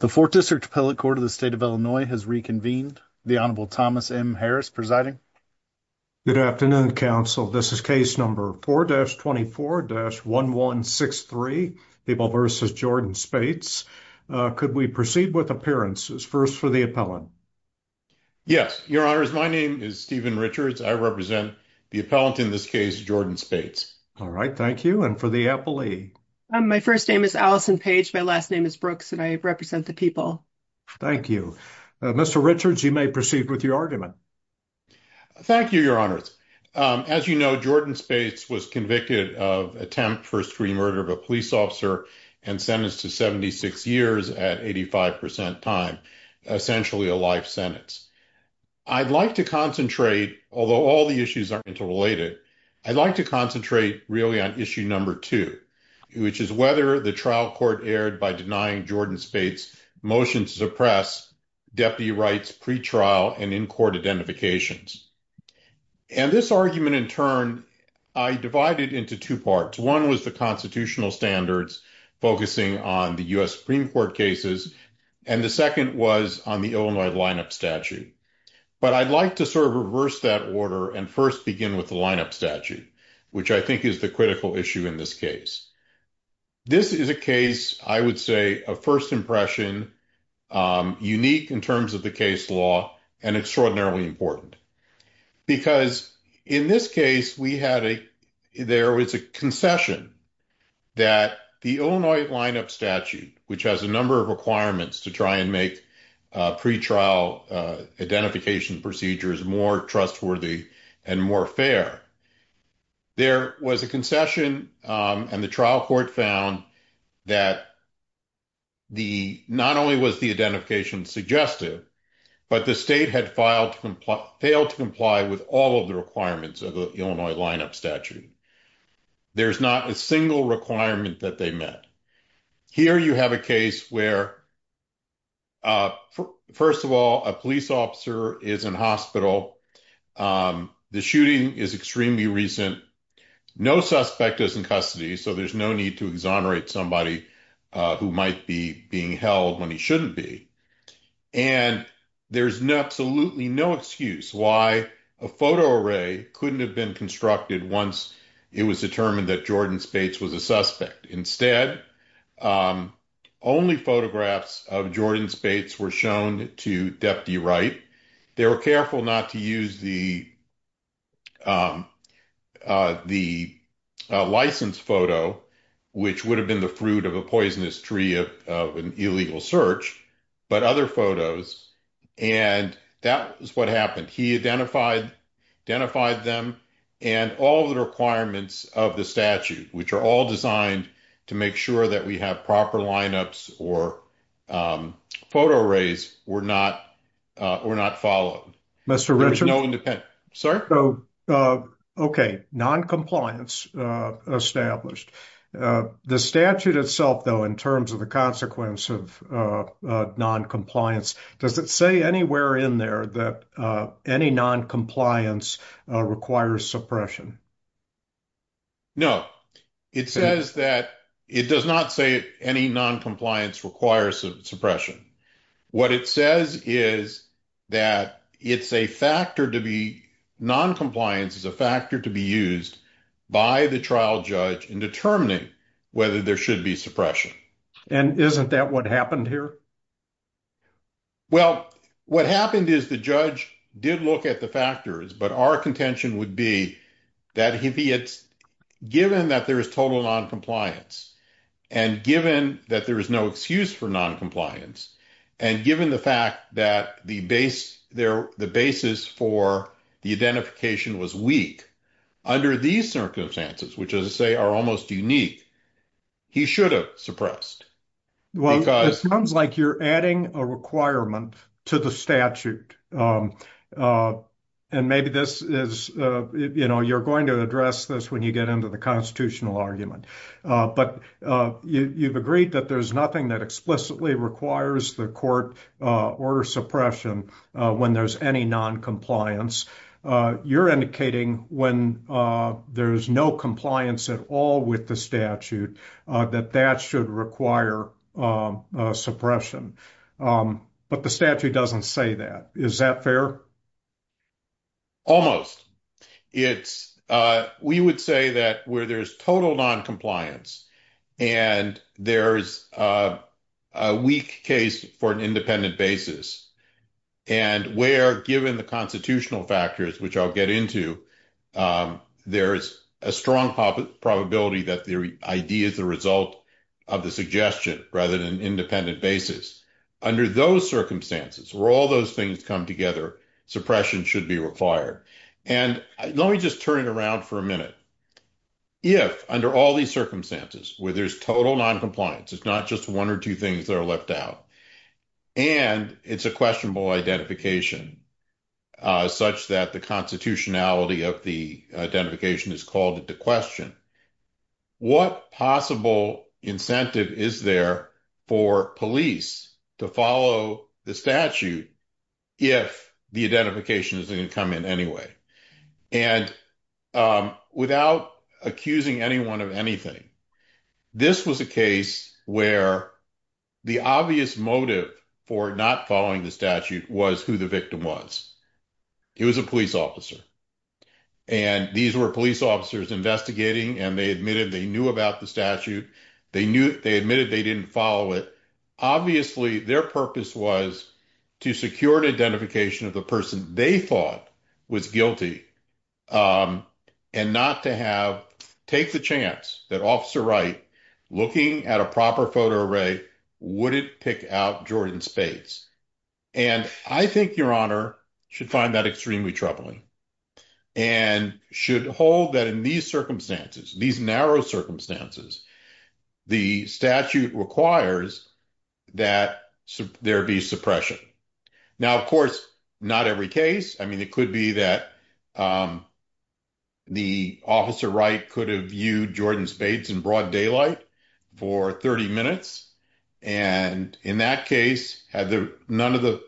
The Fourth District Appellate Court of the State of Illinois has reconvened. The Honorable Thomas M. Harris presiding. Good afternoon, counsel. This is case number 4-24-1163, Peeble v. Jordan Spates. Could we proceed with appearances? First for the appellant. Yes, your honors. My name is Stephen Richards. I represent the appellant in this case, Jordan Spates. All right, thank you. And for the appellee? My first name is Allison Page. My last name is Brooks, and I represent the people. Thank you. Mr. Richards, you may proceed with your argument. Thank you, your honors. As you know, Jordan Spates was convicted of attempt for extreme murder of a police officer and sentenced to 76 years at 85 percent time, essentially a life sentence. I'd like to concentrate, although all the issues are interrelated, I'd like to really concentrate on issue number two, which is whether the trial court erred by denying Jordan Spates' motion to suppress deputy rights pretrial and in-court identifications. And this argument, in turn, I divided into two parts. One was the constitutional standards, focusing on the U.S. Supreme Court cases, and the second was on the Illinois lineup statute. But I'd like to sort of reverse that order and first begin with the lineup statute, which I think is the critical issue in this case. This is a case, I would say, a first impression, unique in terms of the case law and extraordinarily important, because in this case, we had a there was a concession that the Illinois lineup statute, which has a number of requirements to try and make pretrial identification procedures more trustworthy and more fair. There was a concession and the trial court found that the not only was the identification suggestive, but the state had failed to comply with all of the requirements of the Illinois lineup statute. There's not a single requirement that they met. Here you have a case where. First of all, a police officer is in hospital. The shooting is extremely recent. No suspect is in custody, so there's no need to exonerate somebody who might be being held when he shouldn't be. And there's absolutely no excuse why a photo array couldn't have been constructed once it was determined that Jordan Spates was a suspect. Instead, only photographs of Jordan Spates were shown to Deputy Wright. They were careful not to use the the license photo, which would have been the fruit of a poisonous tree of an illegal search, but other photos. And that is what happened. He identified identified them and all the requirements of the statute, which are all designed to make sure that we have proper lineups or photo arrays were not were not followed. Mr. Richard. Sorry. OK, noncompliance established the statute itself, though, in terms of the consequence of noncompliance. Does it say anywhere in there that any noncompliance requires suppression? No, it says that it does not say any noncompliance requires suppression. What it says is that it's a factor to be noncompliance is a factor to be used by the judge in determining whether there should be suppression. And isn't that what happened here? Well, what happened is the judge did look at the factors, but our contention would be that if it's given that there is total noncompliance and given that there is no excuse for noncompliance and given the fact that the base there the basis for the identification was weak under these circumstances, which, as I say, are almost unique, he should have suppressed. Well, it sounds like you're adding a requirement to the statute. And maybe this is, you know, you're going to address this when you get into the constitutional argument. But you've agreed that there's nothing that explicitly requires the court order suppression when there's any noncompliance. You're indicating when there's no compliance at all with the statute that that should require suppression. But the statute doesn't say that. Is that fair? Almost. We would say that where there's total noncompliance and there's a weak case for an independent basis and where, given the constitutional factors, which I'll get into, there is a strong probability that the idea is the result of the suggestion rather than an independent basis. Under those circumstances, where all those things come together, suppression should be required. And let me just turn it around for a minute. If under all these circumstances where there's total noncompliance, it's not just one or two things that are left out and it's a questionable identification such that the constitutionality of the identification is called into question. What possible incentive is there for police to follow the statute if the identification is going to come in anyway? And without accusing anyone of anything, this was a case where the obvious motive for not following the statute was who the victim was. It was a police officer and these were police officers investigating and they admitted they knew about the statute. They knew they admitted they didn't follow it. Obviously, their purpose was to secure the identification of the person they thought was guilty and not to have take the chance that Officer Wright, looking at a proper photo array, wouldn't pick out Jordan Spades. And I think Your Honor should find that extremely troubling and should hold that in these circumstances, these narrow circumstances, the statute requires that there be suppression. Now, of course, not every case. I mean, it could be that the Officer Wright could have viewed Jordan Spades in broad daylight for 30 minutes. And in that case, had none of the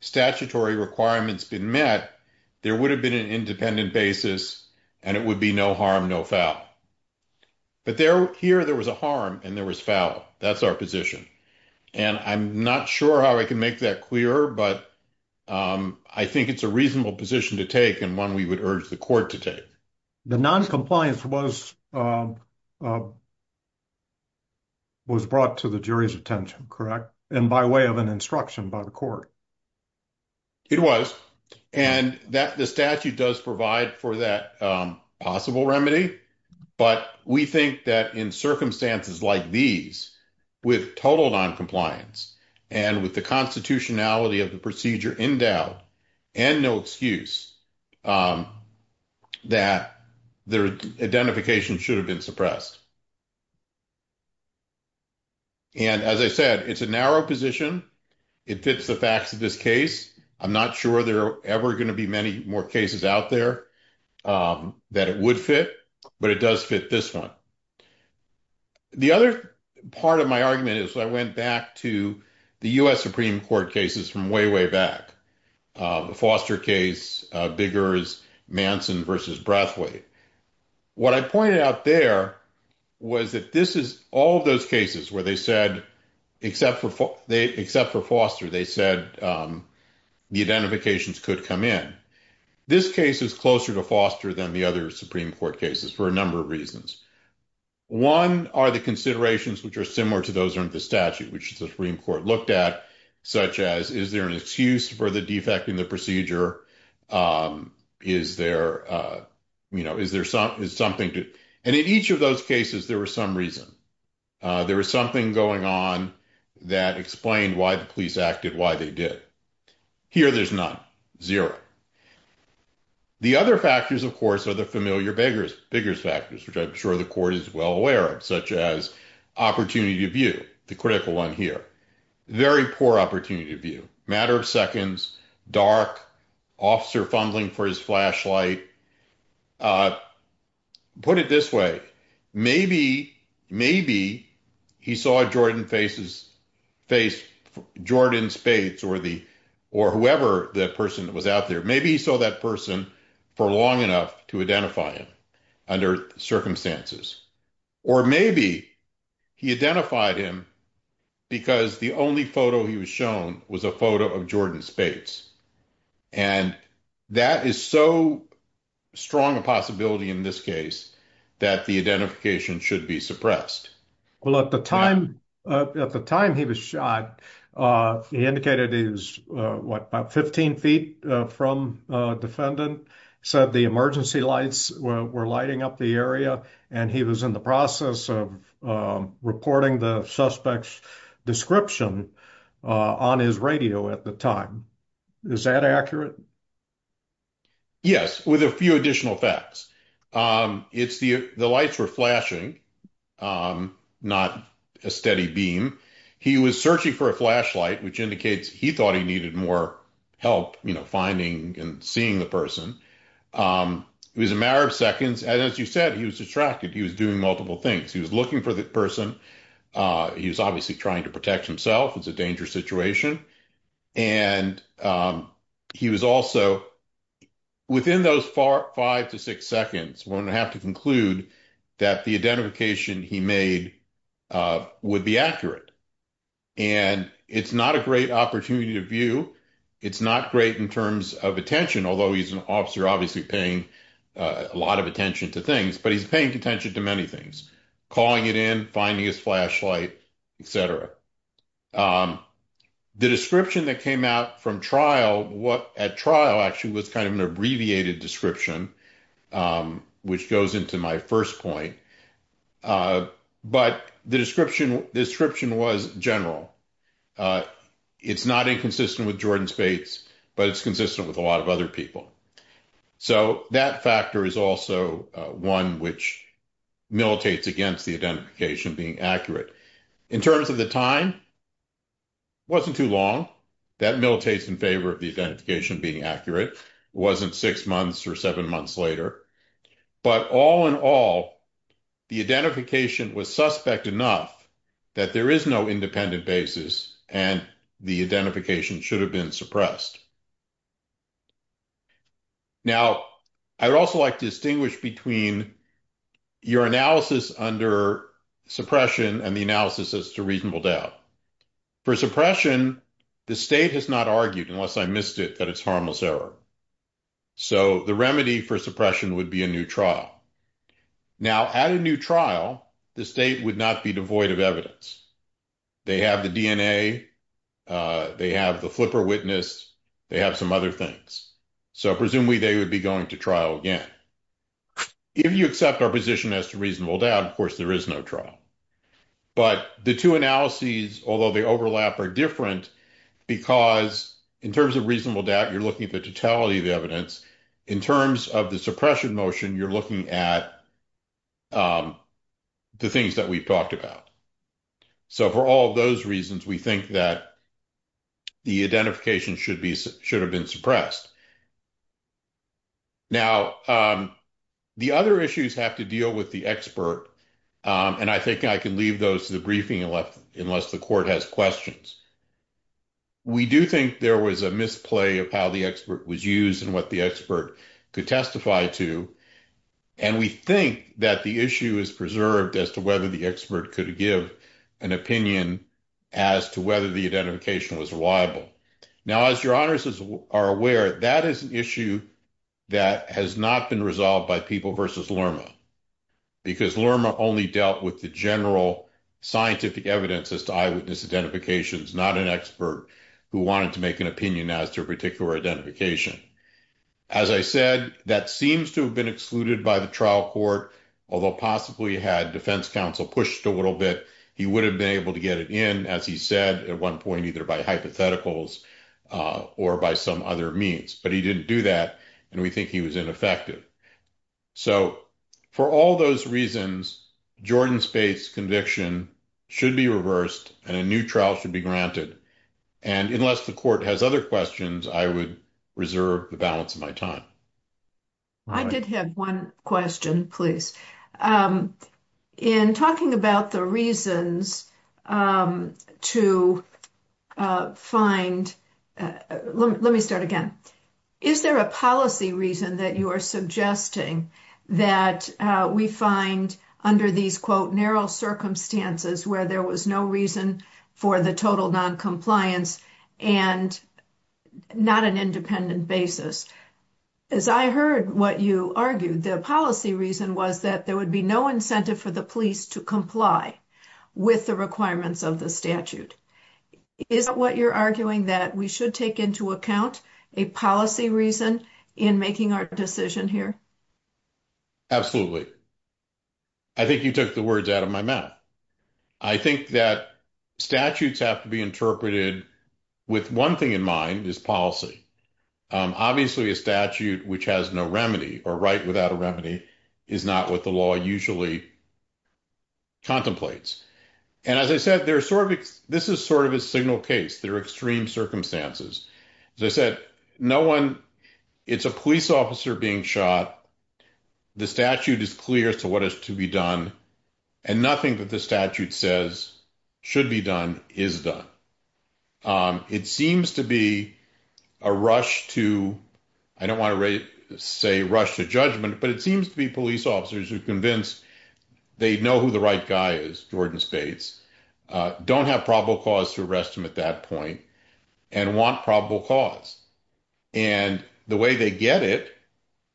statutory requirements been met, there would have been an independent basis and it would be no harm, no foul. But here there was a harm and there was foul. That's our position. And I'm not sure how I can make that clear, but I think it's a reasonable position to take and one we would urge the court to take. The noncompliance was brought to the jury's attention, correct? And by way of an instruction by the court. It was. And the statute does provide for that possible remedy. But we think that in circumstances like these with total noncompliance and with the constitutionality of the procedure endowed and no excuse that their identification should have been suppressed. And as I said, it's a narrow position. It fits the facts of this case. I'm not sure there are ever going to be many more cases out there that it would fit, but it does fit this one. The other part of my argument is I went back to the U.S. Supreme Court cases from way, way back. The Foster case, bigger is Manson versus Brathwaite. What I pointed out there was that this is all those cases where they said, except for Foster, they said the identifications could come in. This case is closer to Foster than the other Supreme Court cases for a number of reasons. One are the considerations which are similar to those in the statute, which the Supreme Court looked at, such as, is there an excuse for the defect in the procedure? Is there something to and in each of those cases, there was some reason. There was something going on that explained why the police acted, why they did. Here, there's not zero. The other factors, of course, are the familiar beggars factors, which I'm sure the court is well aware of, such as opportunity of view, the critical one here. Very poor opportunity of view, matter of seconds, dark, officer fumbling for his flashlight. Put it this way, maybe he saw Jordan Spades or whoever the person that was out there, maybe he saw that person for long enough to identify him under circumstances, or maybe he identified him because the only photo he was shown was a photo of Jordan Spades. That is so strong a possibility in this case that the identification should be suppressed. Well, at the time he was shot, he indicated he was about 15 feet from defendant, said the emergency lights were lighting up the area, and he was in the process of reporting the suspect's description on his radio at the time. Is that accurate? Yes, with a few additional facts. It's the lights were flashing, not a steady beam. He was searching for a flashlight, which indicates he thought he needed more help finding and seeing the person. It was a matter of seconds. And as you said, he was distracted. He was doing multiple things. He was looking for the person. He was obviously trying to protect himself. It's a dangerous situation. And he was also within those five to six seconds when I have to conclude that the identification he made would be accurate. And it's not a great opportunity to view. It's not great in terms of attention, although he's an officer obviously paying a lot of attention to things, but he's came out from trial, what at trial actually was kind of an abbreviated description, which goes into my first point. But the description was general. It's not inconsistent with Jordan Spates, but it's consistent with a lot of other people. So that factor is also one which militates against the identification being accurate. In terms of the time, it wasn't too long. That militates in favor of the identification being accurate. It wasn't six months or seven months later. But all in all, the identification was suspect enough that there is no independent basis and the identification should have been suppressed. Now, I'd also like to distinguish between your analysis under suppression and the analysis as reasonable doubt. For suppression, the state has not argued, unless I missed it, that it's harmless error. So the remedy for suppression would be a new trial. Now, at a new trial, the state would not be devoid of evidence. They have the DNA, they have the flipper witness, they have some other things. So presumably they would be going to trial again. If you accept our position as to reasonable doubt, of course, there is no trial. But the two analyses, although they overlap, are different because in terms of reasonable doubt, you're looking at the totality of the evidence. In terms of the suppression motion, you're looking at the things that we've talked about. So for all of those reasons, we think that the identification should have been suppressed. Now, the other issues have to deal with the expert. And I think I can leave those to the briefing unless the court has questions. We do think there was a misplay of how the expert was used and what the expert could testify to. And we think that the issue is preserved as to whether the expert could give an opinion as to whether the identification was reliable. Now, as your issue, that has not been resolved by People v. Lerma because Lerma only dealt with the general scientific evidence as to eyewitness identifications, not an expert who wanted to make an opinion as to a particular identification. As I said, that seems to have been excluded by the trial court, although possibly had defense counsel pushed a little bit, he would have been able to get it in, as he said at one point, either by hypotheticals or by some other means. But he didn't do that. And we think he was ineffective. So for all those reasons, Jordan Spate's conviction should be reversed and a new trial should be granted. And unless the court has other questions, I would reserve the balance of my time. I did have one question, please. In talking about the reasons to find, let me start again. Is there a policy reason that you are suggesting that we find under these, quote, narrow circumstances where there was no reason for the total noncompliance and not an independent basis? As I heard what you argued, the policy reason was that there would be no incentive for the police to comply with the requirements of the statute. Is what you're arguing that we should take into account a policy reason in making our decision here? Absolutely. I think you took the words out of my mouth. I think that statutes have to be interpreted with one thing in mind is policy. Obviously, a statute which has no remedy or right without a remedy is not what the law usually contemplates. And as I said, this is sort of a signal case. There are extreme circumstances. As I said, no one, it's a police officer being shot. The statute is clear as to what is to be done. And nothing that the statute says should be done is done. It seems to be a rush to, I don't want to say rush to judgment, but it seems to be police officers are convinced they know who the right guy is. Jordan Spades don't have probable cause to arrest him at that point and want probable cause. And the way they get it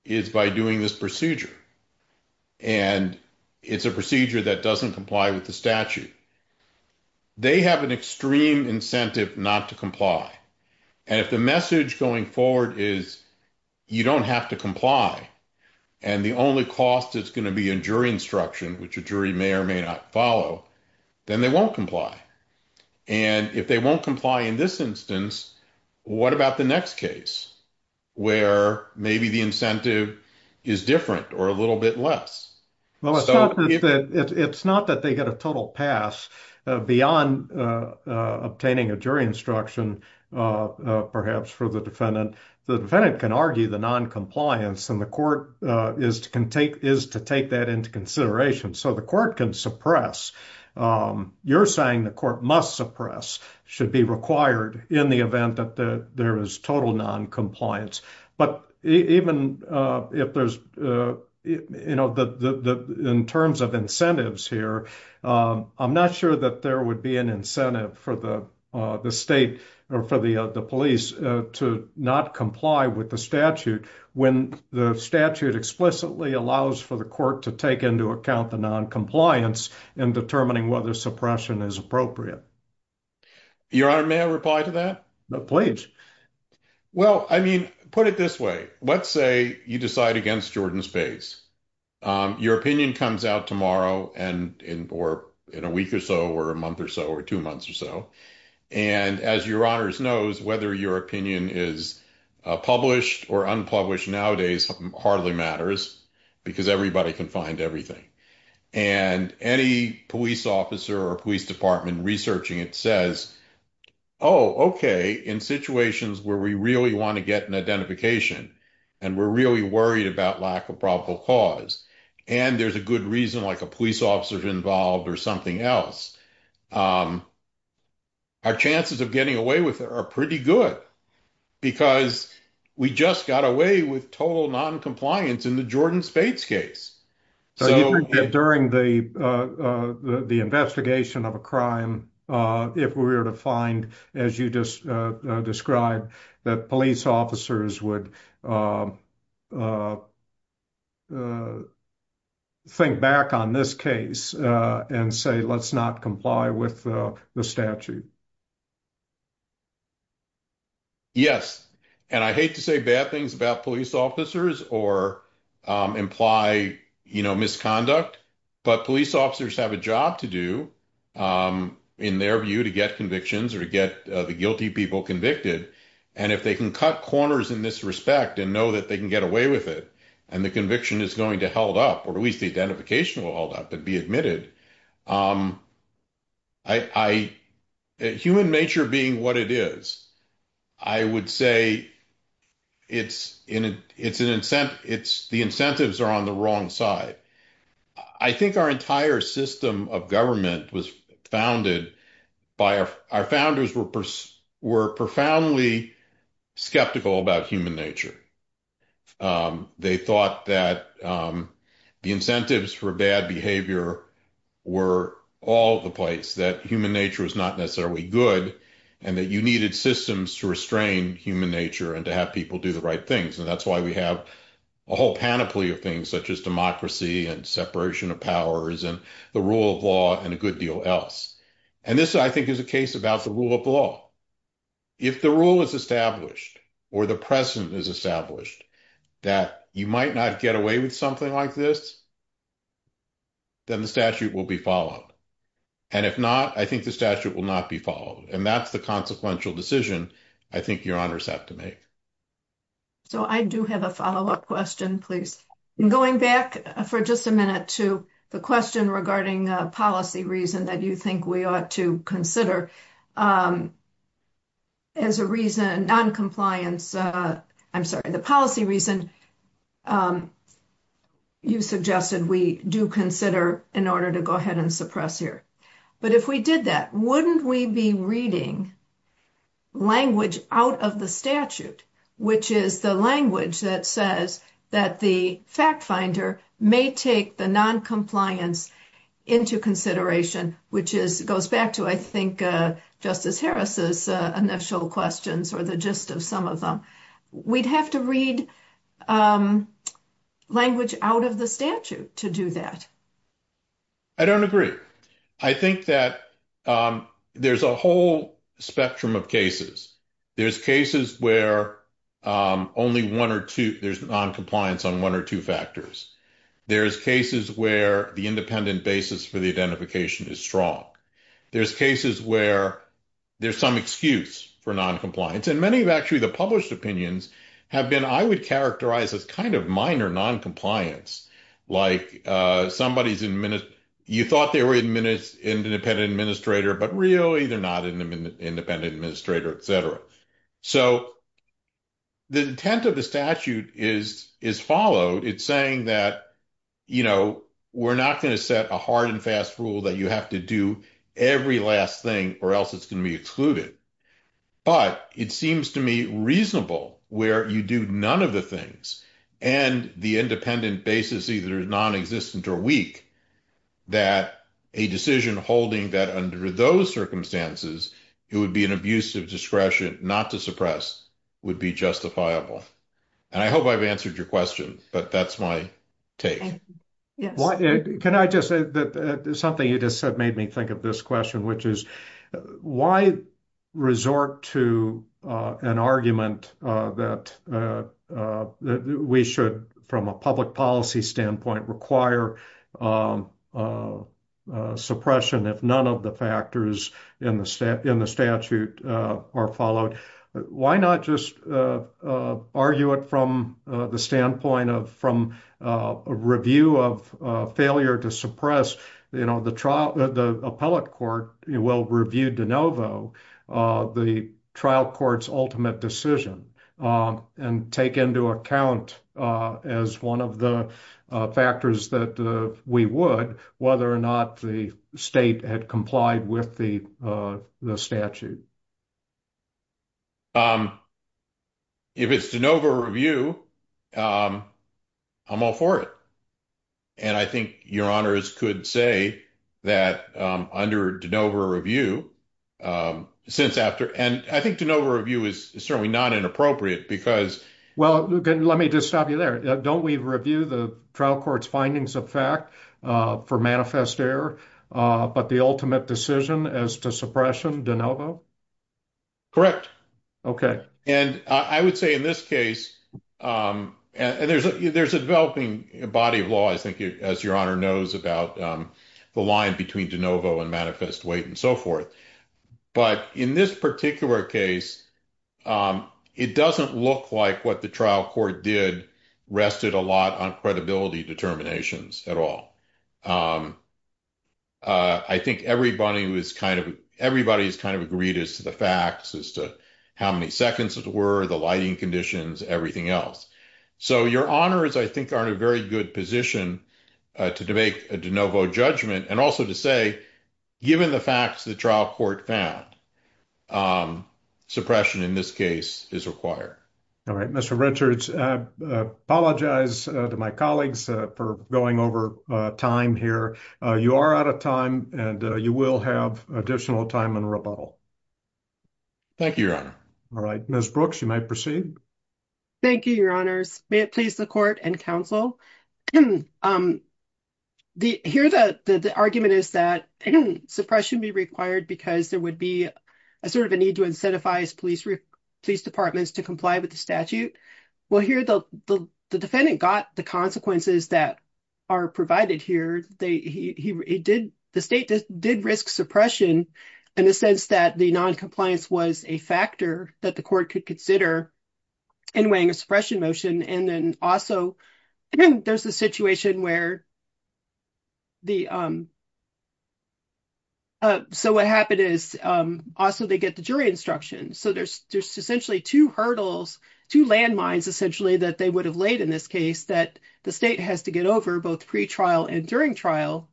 is by doing this procedure. And it's a procedure that doesn't comply with the statute. They have an extreme incentive not to comply. And if the message going forward is you don't have to comply and the only cost is going to be in jury instruction, which a jury may or may not follow, then they won't comply. And if they won't comply in this instance, what about the next case where maybe the incentive is different or a little bit less? Well, it's not that they get a total pass beyond obtaining a jury instruction, perhaps for the defendant. The defendant can argue the noncompliance and the court is to take that into consideration. So the court can suppress. You're saying the court must suppress, should be required in the event that there is total noncompliance. But even if there's, you know, in terms of incentives here, I'm not sure that there would be an incentive for the state or for the police to not comply with the statute when the statute explicitly allows for the court to take into account the noncompliance in determining whether suppression is appropriate. Your Honor, may I reply to that? Please. Well, I mean, put it this way. Let's say you decide against Jordan's case. Your opinion comes out tomorrow and in a week or so, or a month or so, or two months or so. And as your honors knows, whether your opinion is published or unpublished nowadays, hardly matters because everybody can find everything. And any police officer or police department researching it says, oh, okay. In situations where we really want to get an identification and we're really worried about lack of probable cause. And there's a good reason, like a police officer's involved or something else. Our chances of getting away with it are pretty good because we just got away with total noncompliance in the Jordan Spades case. So during the investigation of a crime, if we were to find, as you just described, that police officers would think back on this case and say, let's not comply with the statute. Yes. And I hate to say bad things about police officers or imply misconduct, but police officers have a job to do in their view to get convictions or to get the guilty people convicted. And if they can cut corners in this respect and know that they can get away with it, and the conviction is going to hold up, or at least the identification will hold up and be admitted. Human nature being what it is, I would say the incentives are on the wrong side. I think our entire system of government was founded by our founders were profoundly skeptical about human nature. They thought that the incentives for bad behavior were all the place, that human nature is not necessarily good and that you needed systems to restrain human nature and to have people do the right things. And that's why we have a whole panoply of things such as democracy and separation of powers and the rule of law and a good deal else. And this, I think, is a case about the rule of law. If the rule is established or the precedent is established that you might not get away with something like this, then the statute will be followed. And if not, I think the statute will not be followed. And that's the consequential decision I think your honors have to make. So I do have a follow-up question, please. Going back for just a minute to the question regarding policy reason that you think we ought to consider as a reason, non-compliance, I'm sorry, the policy reason you suggested we do consider in order to go ahead and suppress here. But if we did that, wouldn't we be reading language out of the statute, which is the language that says that the fact finder may take the non-compliance into consideration, which goes back to, I think, Justice Harris's initial questions or the gist of some of them. We'd have to read language out of the statute to do that. I don't agree. I think that there's a whole spectrum of cases. There's cases where only one or two, there's non-compliance on one or two factors. There's cases where the independent basis for the identification is strong. There's cases where there's some excuse for non-compliance. And many of actually the published opinions have been, I would characterize as kind of minor non-compliance, like somebody's, you thought they were independent administrator, but really they're not independent administrator, et cetera. So the intent of the statute is followed. It's saying that, we're not going to set a hard and fast rule that you have to do every last thing or else it's going to be excluded. But it seems to me reasonable where you do none of the things and the independent basis either is non-existent or weak, that a decision holding that under those circumstances, it would be an abusive discretion not to suppress would be justifiable. And I hope I've answered your question, but that's my take. Can I just say that something you just said made me think of this question, which is why resort to an argument that we should, from a public policy standpoint, require suppression if none of the factors in the statute are followed. Why not just argue it from the standpoint of, from a review of failure to suppress, you know, the trial, the appellate court will review de novo the trial court's ultimate decision and take into account as one of the factors that we would, whether or not the state had complied with the statute. If it's de novo review, I'm all for it. And I think your honors could say that under de novo review, since after, and I think de novo review is certainly not inappropriate because Well, let me just stop you there. Don't we review the trial court's findings of fact for manifest error, but the ultimate decision as to suppression de novo. Correct. Okay. And I would say in this case, and there's a, there's a developing body of law, I think as your honor knows about the line between de novo and manifest weight and so forth. But in this particular case, it doesn't look like what the trial court did rested a lot on credibility determinations at all. I think everybody was kind of, everybody's kind of agreed as to the facts as to how many seconds were the lighting conditions, everything else. So your honors, I think are in a very good position to debate a de novo judgment. And also to say, given the facts, the trial court found suppression in this case is required. All right, Mr. Richards, I apologize to my colleagues for going over time here. You are out of time and you will have additional time in rebuttal. Thank you, your honor. All right, Ms. Brooks, you might proceed. Thank you, your honors. May it please the court and counsel. Here the argument is that suppression be required because there would be a sort of a need to incentivize police departments to comply with the statute. Well, here the defendant got the consequences that are provided here. The state did risk suppression in the sense that the noncompliance was a factor that the court could consider in weighing a suppression motion. And then also there's a situation where the, so what happened is also they get the jury instruction. So there's essentially two hurdles, two landmines essentially that they would have laid in this case that the state has to get over both pre-trial and during trial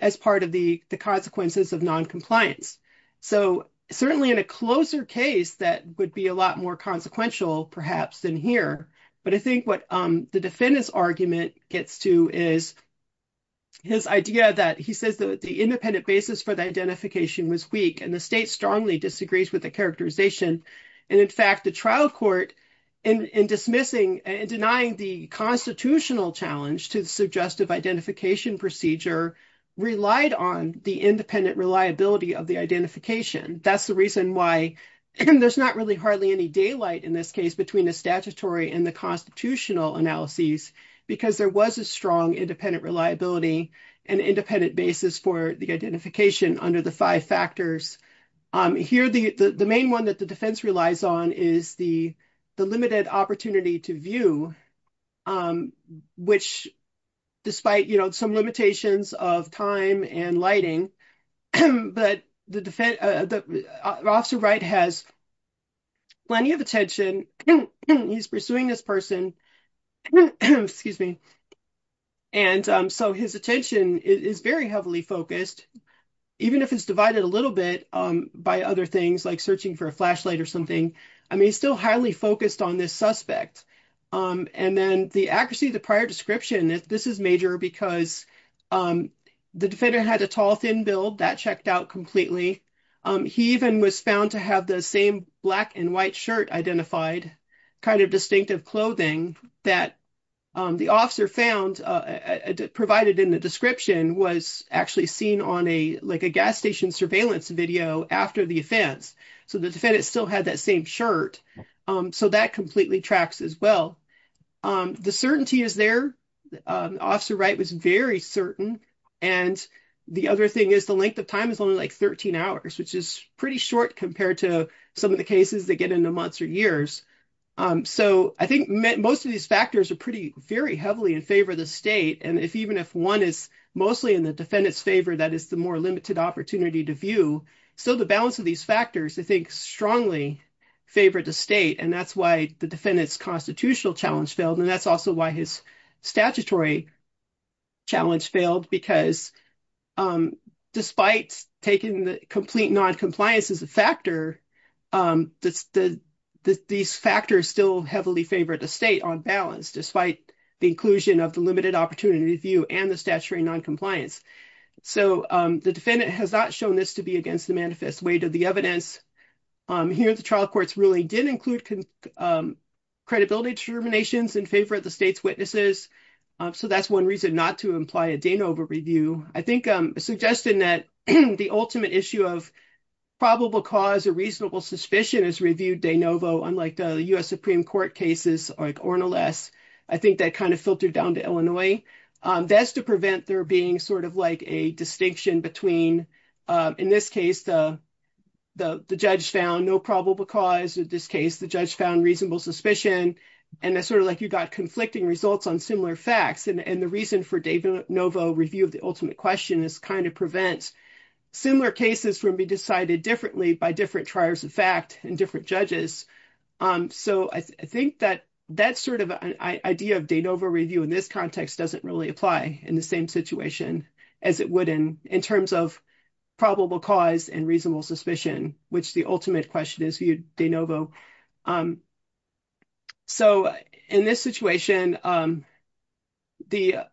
as part of the consequences of noncompliance. So certainly in a closer case that would be a lot more consequential perhaps than here. But I think what the defendant's argument gets to is his idea that he says that the independent basis for the identification was weak and the state strongly disagrees with the characterization. And in fact, the trial court in dismissing and denying the constitutional challenge to suggestive identification procedure relied on the independent reliability of the identification. That's the reason why there's not really hardly any daylight in this case between the statutory and the constitutional analyses, because there was a strong independent reliability and independent basis for the identification under the five factors. Here the main one that the defense relies on is the limited opportunity to view, which despite some limitations of time and lighting, but the officer Wright has plenty of attention. He's pursuing this person, excuse me, and so his attention is very heavily focused, even if it's divided a little bit by other things like searching for a flashlight or something. I mean, he's still highly focused on this suspect. And then the accuracy of the prior description, this is major because the defendant had a tall, thin build that checked out completely. He even was found to have the same black and white shirt identified, kind of distinctive clothing that the officer found provided in the description was actually seen on a like a gas station surveillance video after the offense. So the defendant still had that same shirt. So that completely tracks as well. The certainty is there. Officer Wright was very certain. And the other thing is the length of time is only like 13 hours, which is pretty short compared to some of the cases that get into months or years. So I think most of these factors are pretty very heavily in favor of the state. And if even if one is mostly in the defendant's favor, that is the more limited opportunity to view. So the balance of these factors, I think strongly favor the state. And that's why the defendant's constitutional challenge failed. And that's also why his statutory challenge failed, because despite taking the complete noncompliance as a factor, these factors still heavily favor the state on balance, despite the inclusion of the limited opportunity view and the statutory noncompliance. So the defendant has not shown this to be against the manifest weight of the evidence. Here, the trial courts really did include credibility determinations in favor of the state's witnesses. So that's one reason not to imply a de novo review. I think suggesting that the ultimate issue of probable cause or reasonable suspicion is reviewed de novo, unlike the U.S. Supreme Court cases like Ornelas. I think that kind of filtered down to Illinois. That's to prevent there being sort of like a distinction between, in this case, the judge found no probable cause. In this case, the judge found reasonable suspicion. And that's sort of like you got conflicting results on similar facts. And the reason for de novo review of the ultimate question is kind of prevents similar cases from being decided differently by different trials of fact and different judges. So I think that that sort of idea of de novo review in this context doesn't really apply in the same situation as it would in terms of probable cause and reasonable suspicion, which the ultimate question is reviewed de novo. So in this situation, the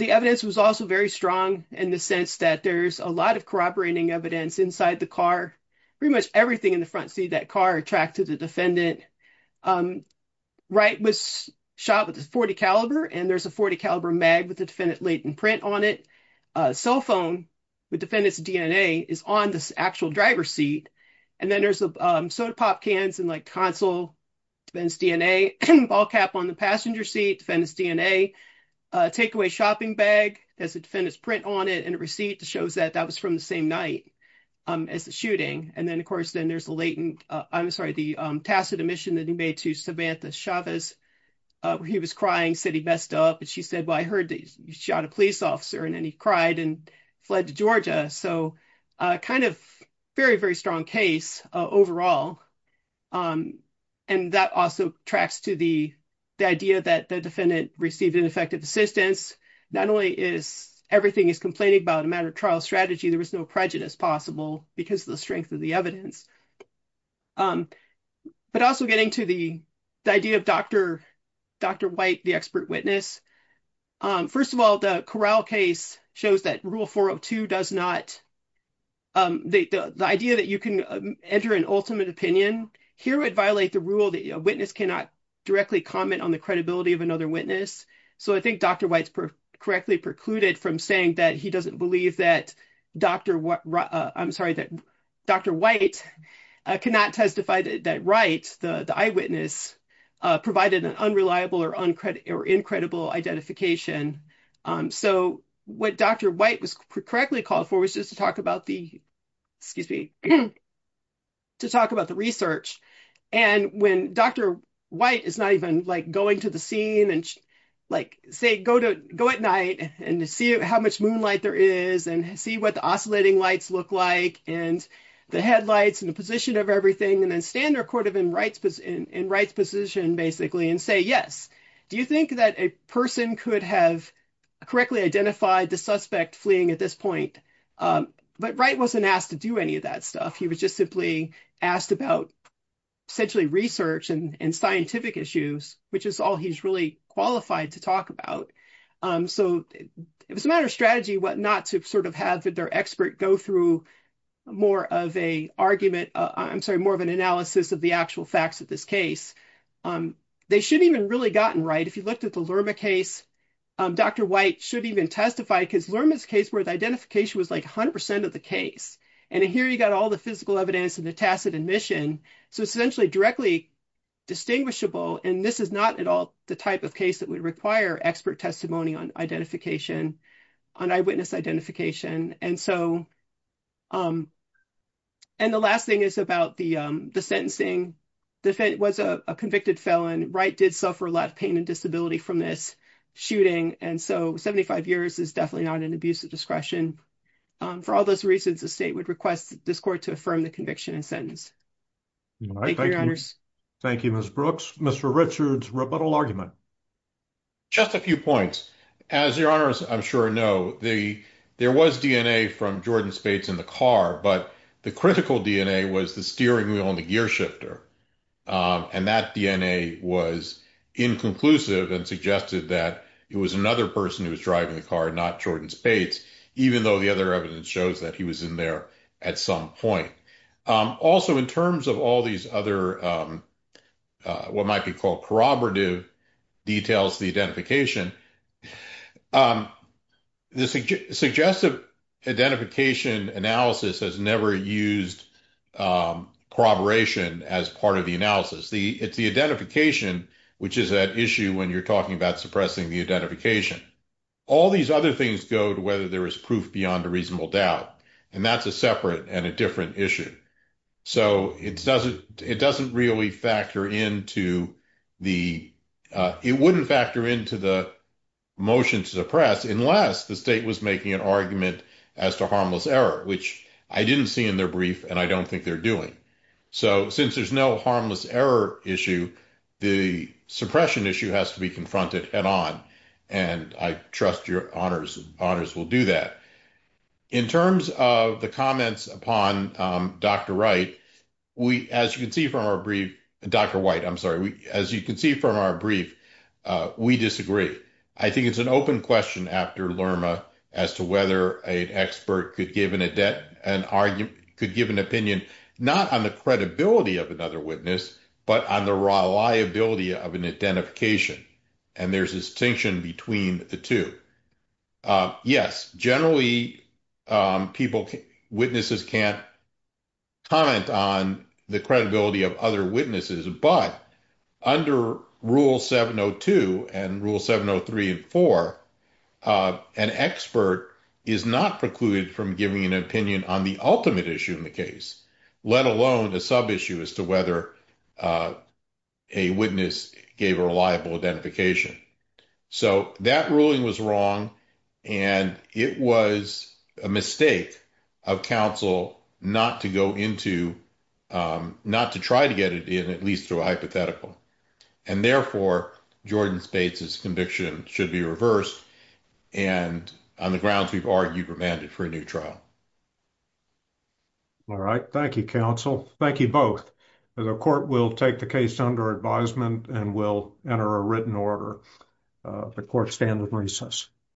evidence was also very strong in the sense that there's a lot of corroborating evidence inside the car. Pretty much everything in the front seat of that car attracted the defendant. Wright was shot with a .40 caliber, and there's a .40 caliber mag with latent print on it. Cell phone with defendant's DNA is on the actual driver's seat. And then there's soda pop cans and like console, defendant's DNA, ball cap on the passenger seat, defendant's DNA. Takeaway shopping bag has a defendant's print on it and a receipt that shows that that was from the same night as the shooting. And then, of course, then there's a latent, I'm sorry, the tacit admission that he made to Samantha Chavez. He was crying, said he messed up. And she said, I heard that you shot a police officer and then he cried and fled to Georgia. So kind of very, very strong case overall. And that also tracks to the idea that the defendant received ineffective assistance. Not only is everything is complaining about a matter of trial strategy, there was no prejudice possible because of the strength of the evidence. But also getting to the idea of Dr. White, the expert witness. First of all, the Corral case shows that Rule 402 does not, the idea that you can enter an ultimate opinion here would violate the rule that a witness cannot directly comment on the credibility of another witness. So I think Dr. White's correctly precluded from saying that he doesn't believe that Dr. White, I'm sorry, that Dr. White cannot testify that Wright, the eyewitness, provided an unreliable or incredible identification. So what Dr. White was correctly called for was just to talk about the, excuse me, to talk about the research. And when Dr. White is not even like going to the scene and like say, go at night and see how much moonlight there is and see what the oscillating lights look like and the headlights and the position of everything and then stand in Wright's position basically and say, yes, do you think that a person could have correctly identified the suspect fleeing at this point? But Wright wasn't asked to do any of that stuff. He was just simply asked about essentially research and scientific issues, which is all he's really qualified to talk about. So it was a matter of strategy what not to sort of have their expert go through more of a argument, I'm sorry, more of an analysis of the actual facts of this case. They should have even really gotten Wright. If you looked at the Lerma case, Dr. White should even testify because Lerma's case where the identification was like 100% of the case. And here you got all the physical evidence and the tacit admission. So it's essentially directly distinguishable. And this is not at all the type of case that would require expert testimony on identification, on eyewitness identification. And the last thing is about the sentencing. The defendant was a convicted felon. Wright did suffer a lot of pain and disability from this shooting. And so 75 years is definitely not an abuse of discretion. For all those reasons, the state would request this court to affirm the conviction and sentence. Thank you, Your Honors. Thank you, Ms. Brooks. Mr. Richards, rebuttal argument. Just a few points. As Your Honors I'm sure know, there was DNA from Jordan Spates in the car, but the critical DNA was the steering wheel and the gear shifter. And that DNA was inconclusive and suggested that it was another person who was driving the car, not Jordan Spates, even though the other evidence shows that he was in there at some point. Also, in terms of all these other what might be called corroborative details, the identification, the suggestive identification analysis has never used corroboration as part of the analysis. It's the identification, which is that issue when you're talking about suppressing the identification. All these other things go to whether there is proof beyond a reasonable doubt. And that's a separate and a different issue. So it doesn't really factor into the motion to suppress unless the state was making an argument as to harmless error, which I didn't see in their brief and I don't think they're doing. So since there's no harmless error issue, the suppression issue has to be confronted head on. And I trust your honors will do that. In terms of the comments upon Dr. Wright, as you can see from our brief, Dr. White, I'm sorry, as you can see from our brief, we disagree. I think it's an open question after Lerma as to whether an expert could give an opinion, not on the credibility of another witness, but on the reliability of an identification. And there's a distinction between the two. Yes, generally witnesses can't comment on the credibility of other witnesses, but under Rule 702 and Rule 703 and 4, an expert is not precluded from giving an opinion on the ultimate issue in the case, let alone a sub-issue as to whether a witness gave a reliable identification. So that ruling was wrong and it was a mistake of counsel not to go into, not to try to get it in, at least through a hypothetical. And therefore, Jordan Spates' conviction should be reversed and on the grounds we've argued remanded for a new trial. All right. Thank you, counsel. Thank you both. The court will take the case under advisement and we'll enter a written order. The court stands in recess.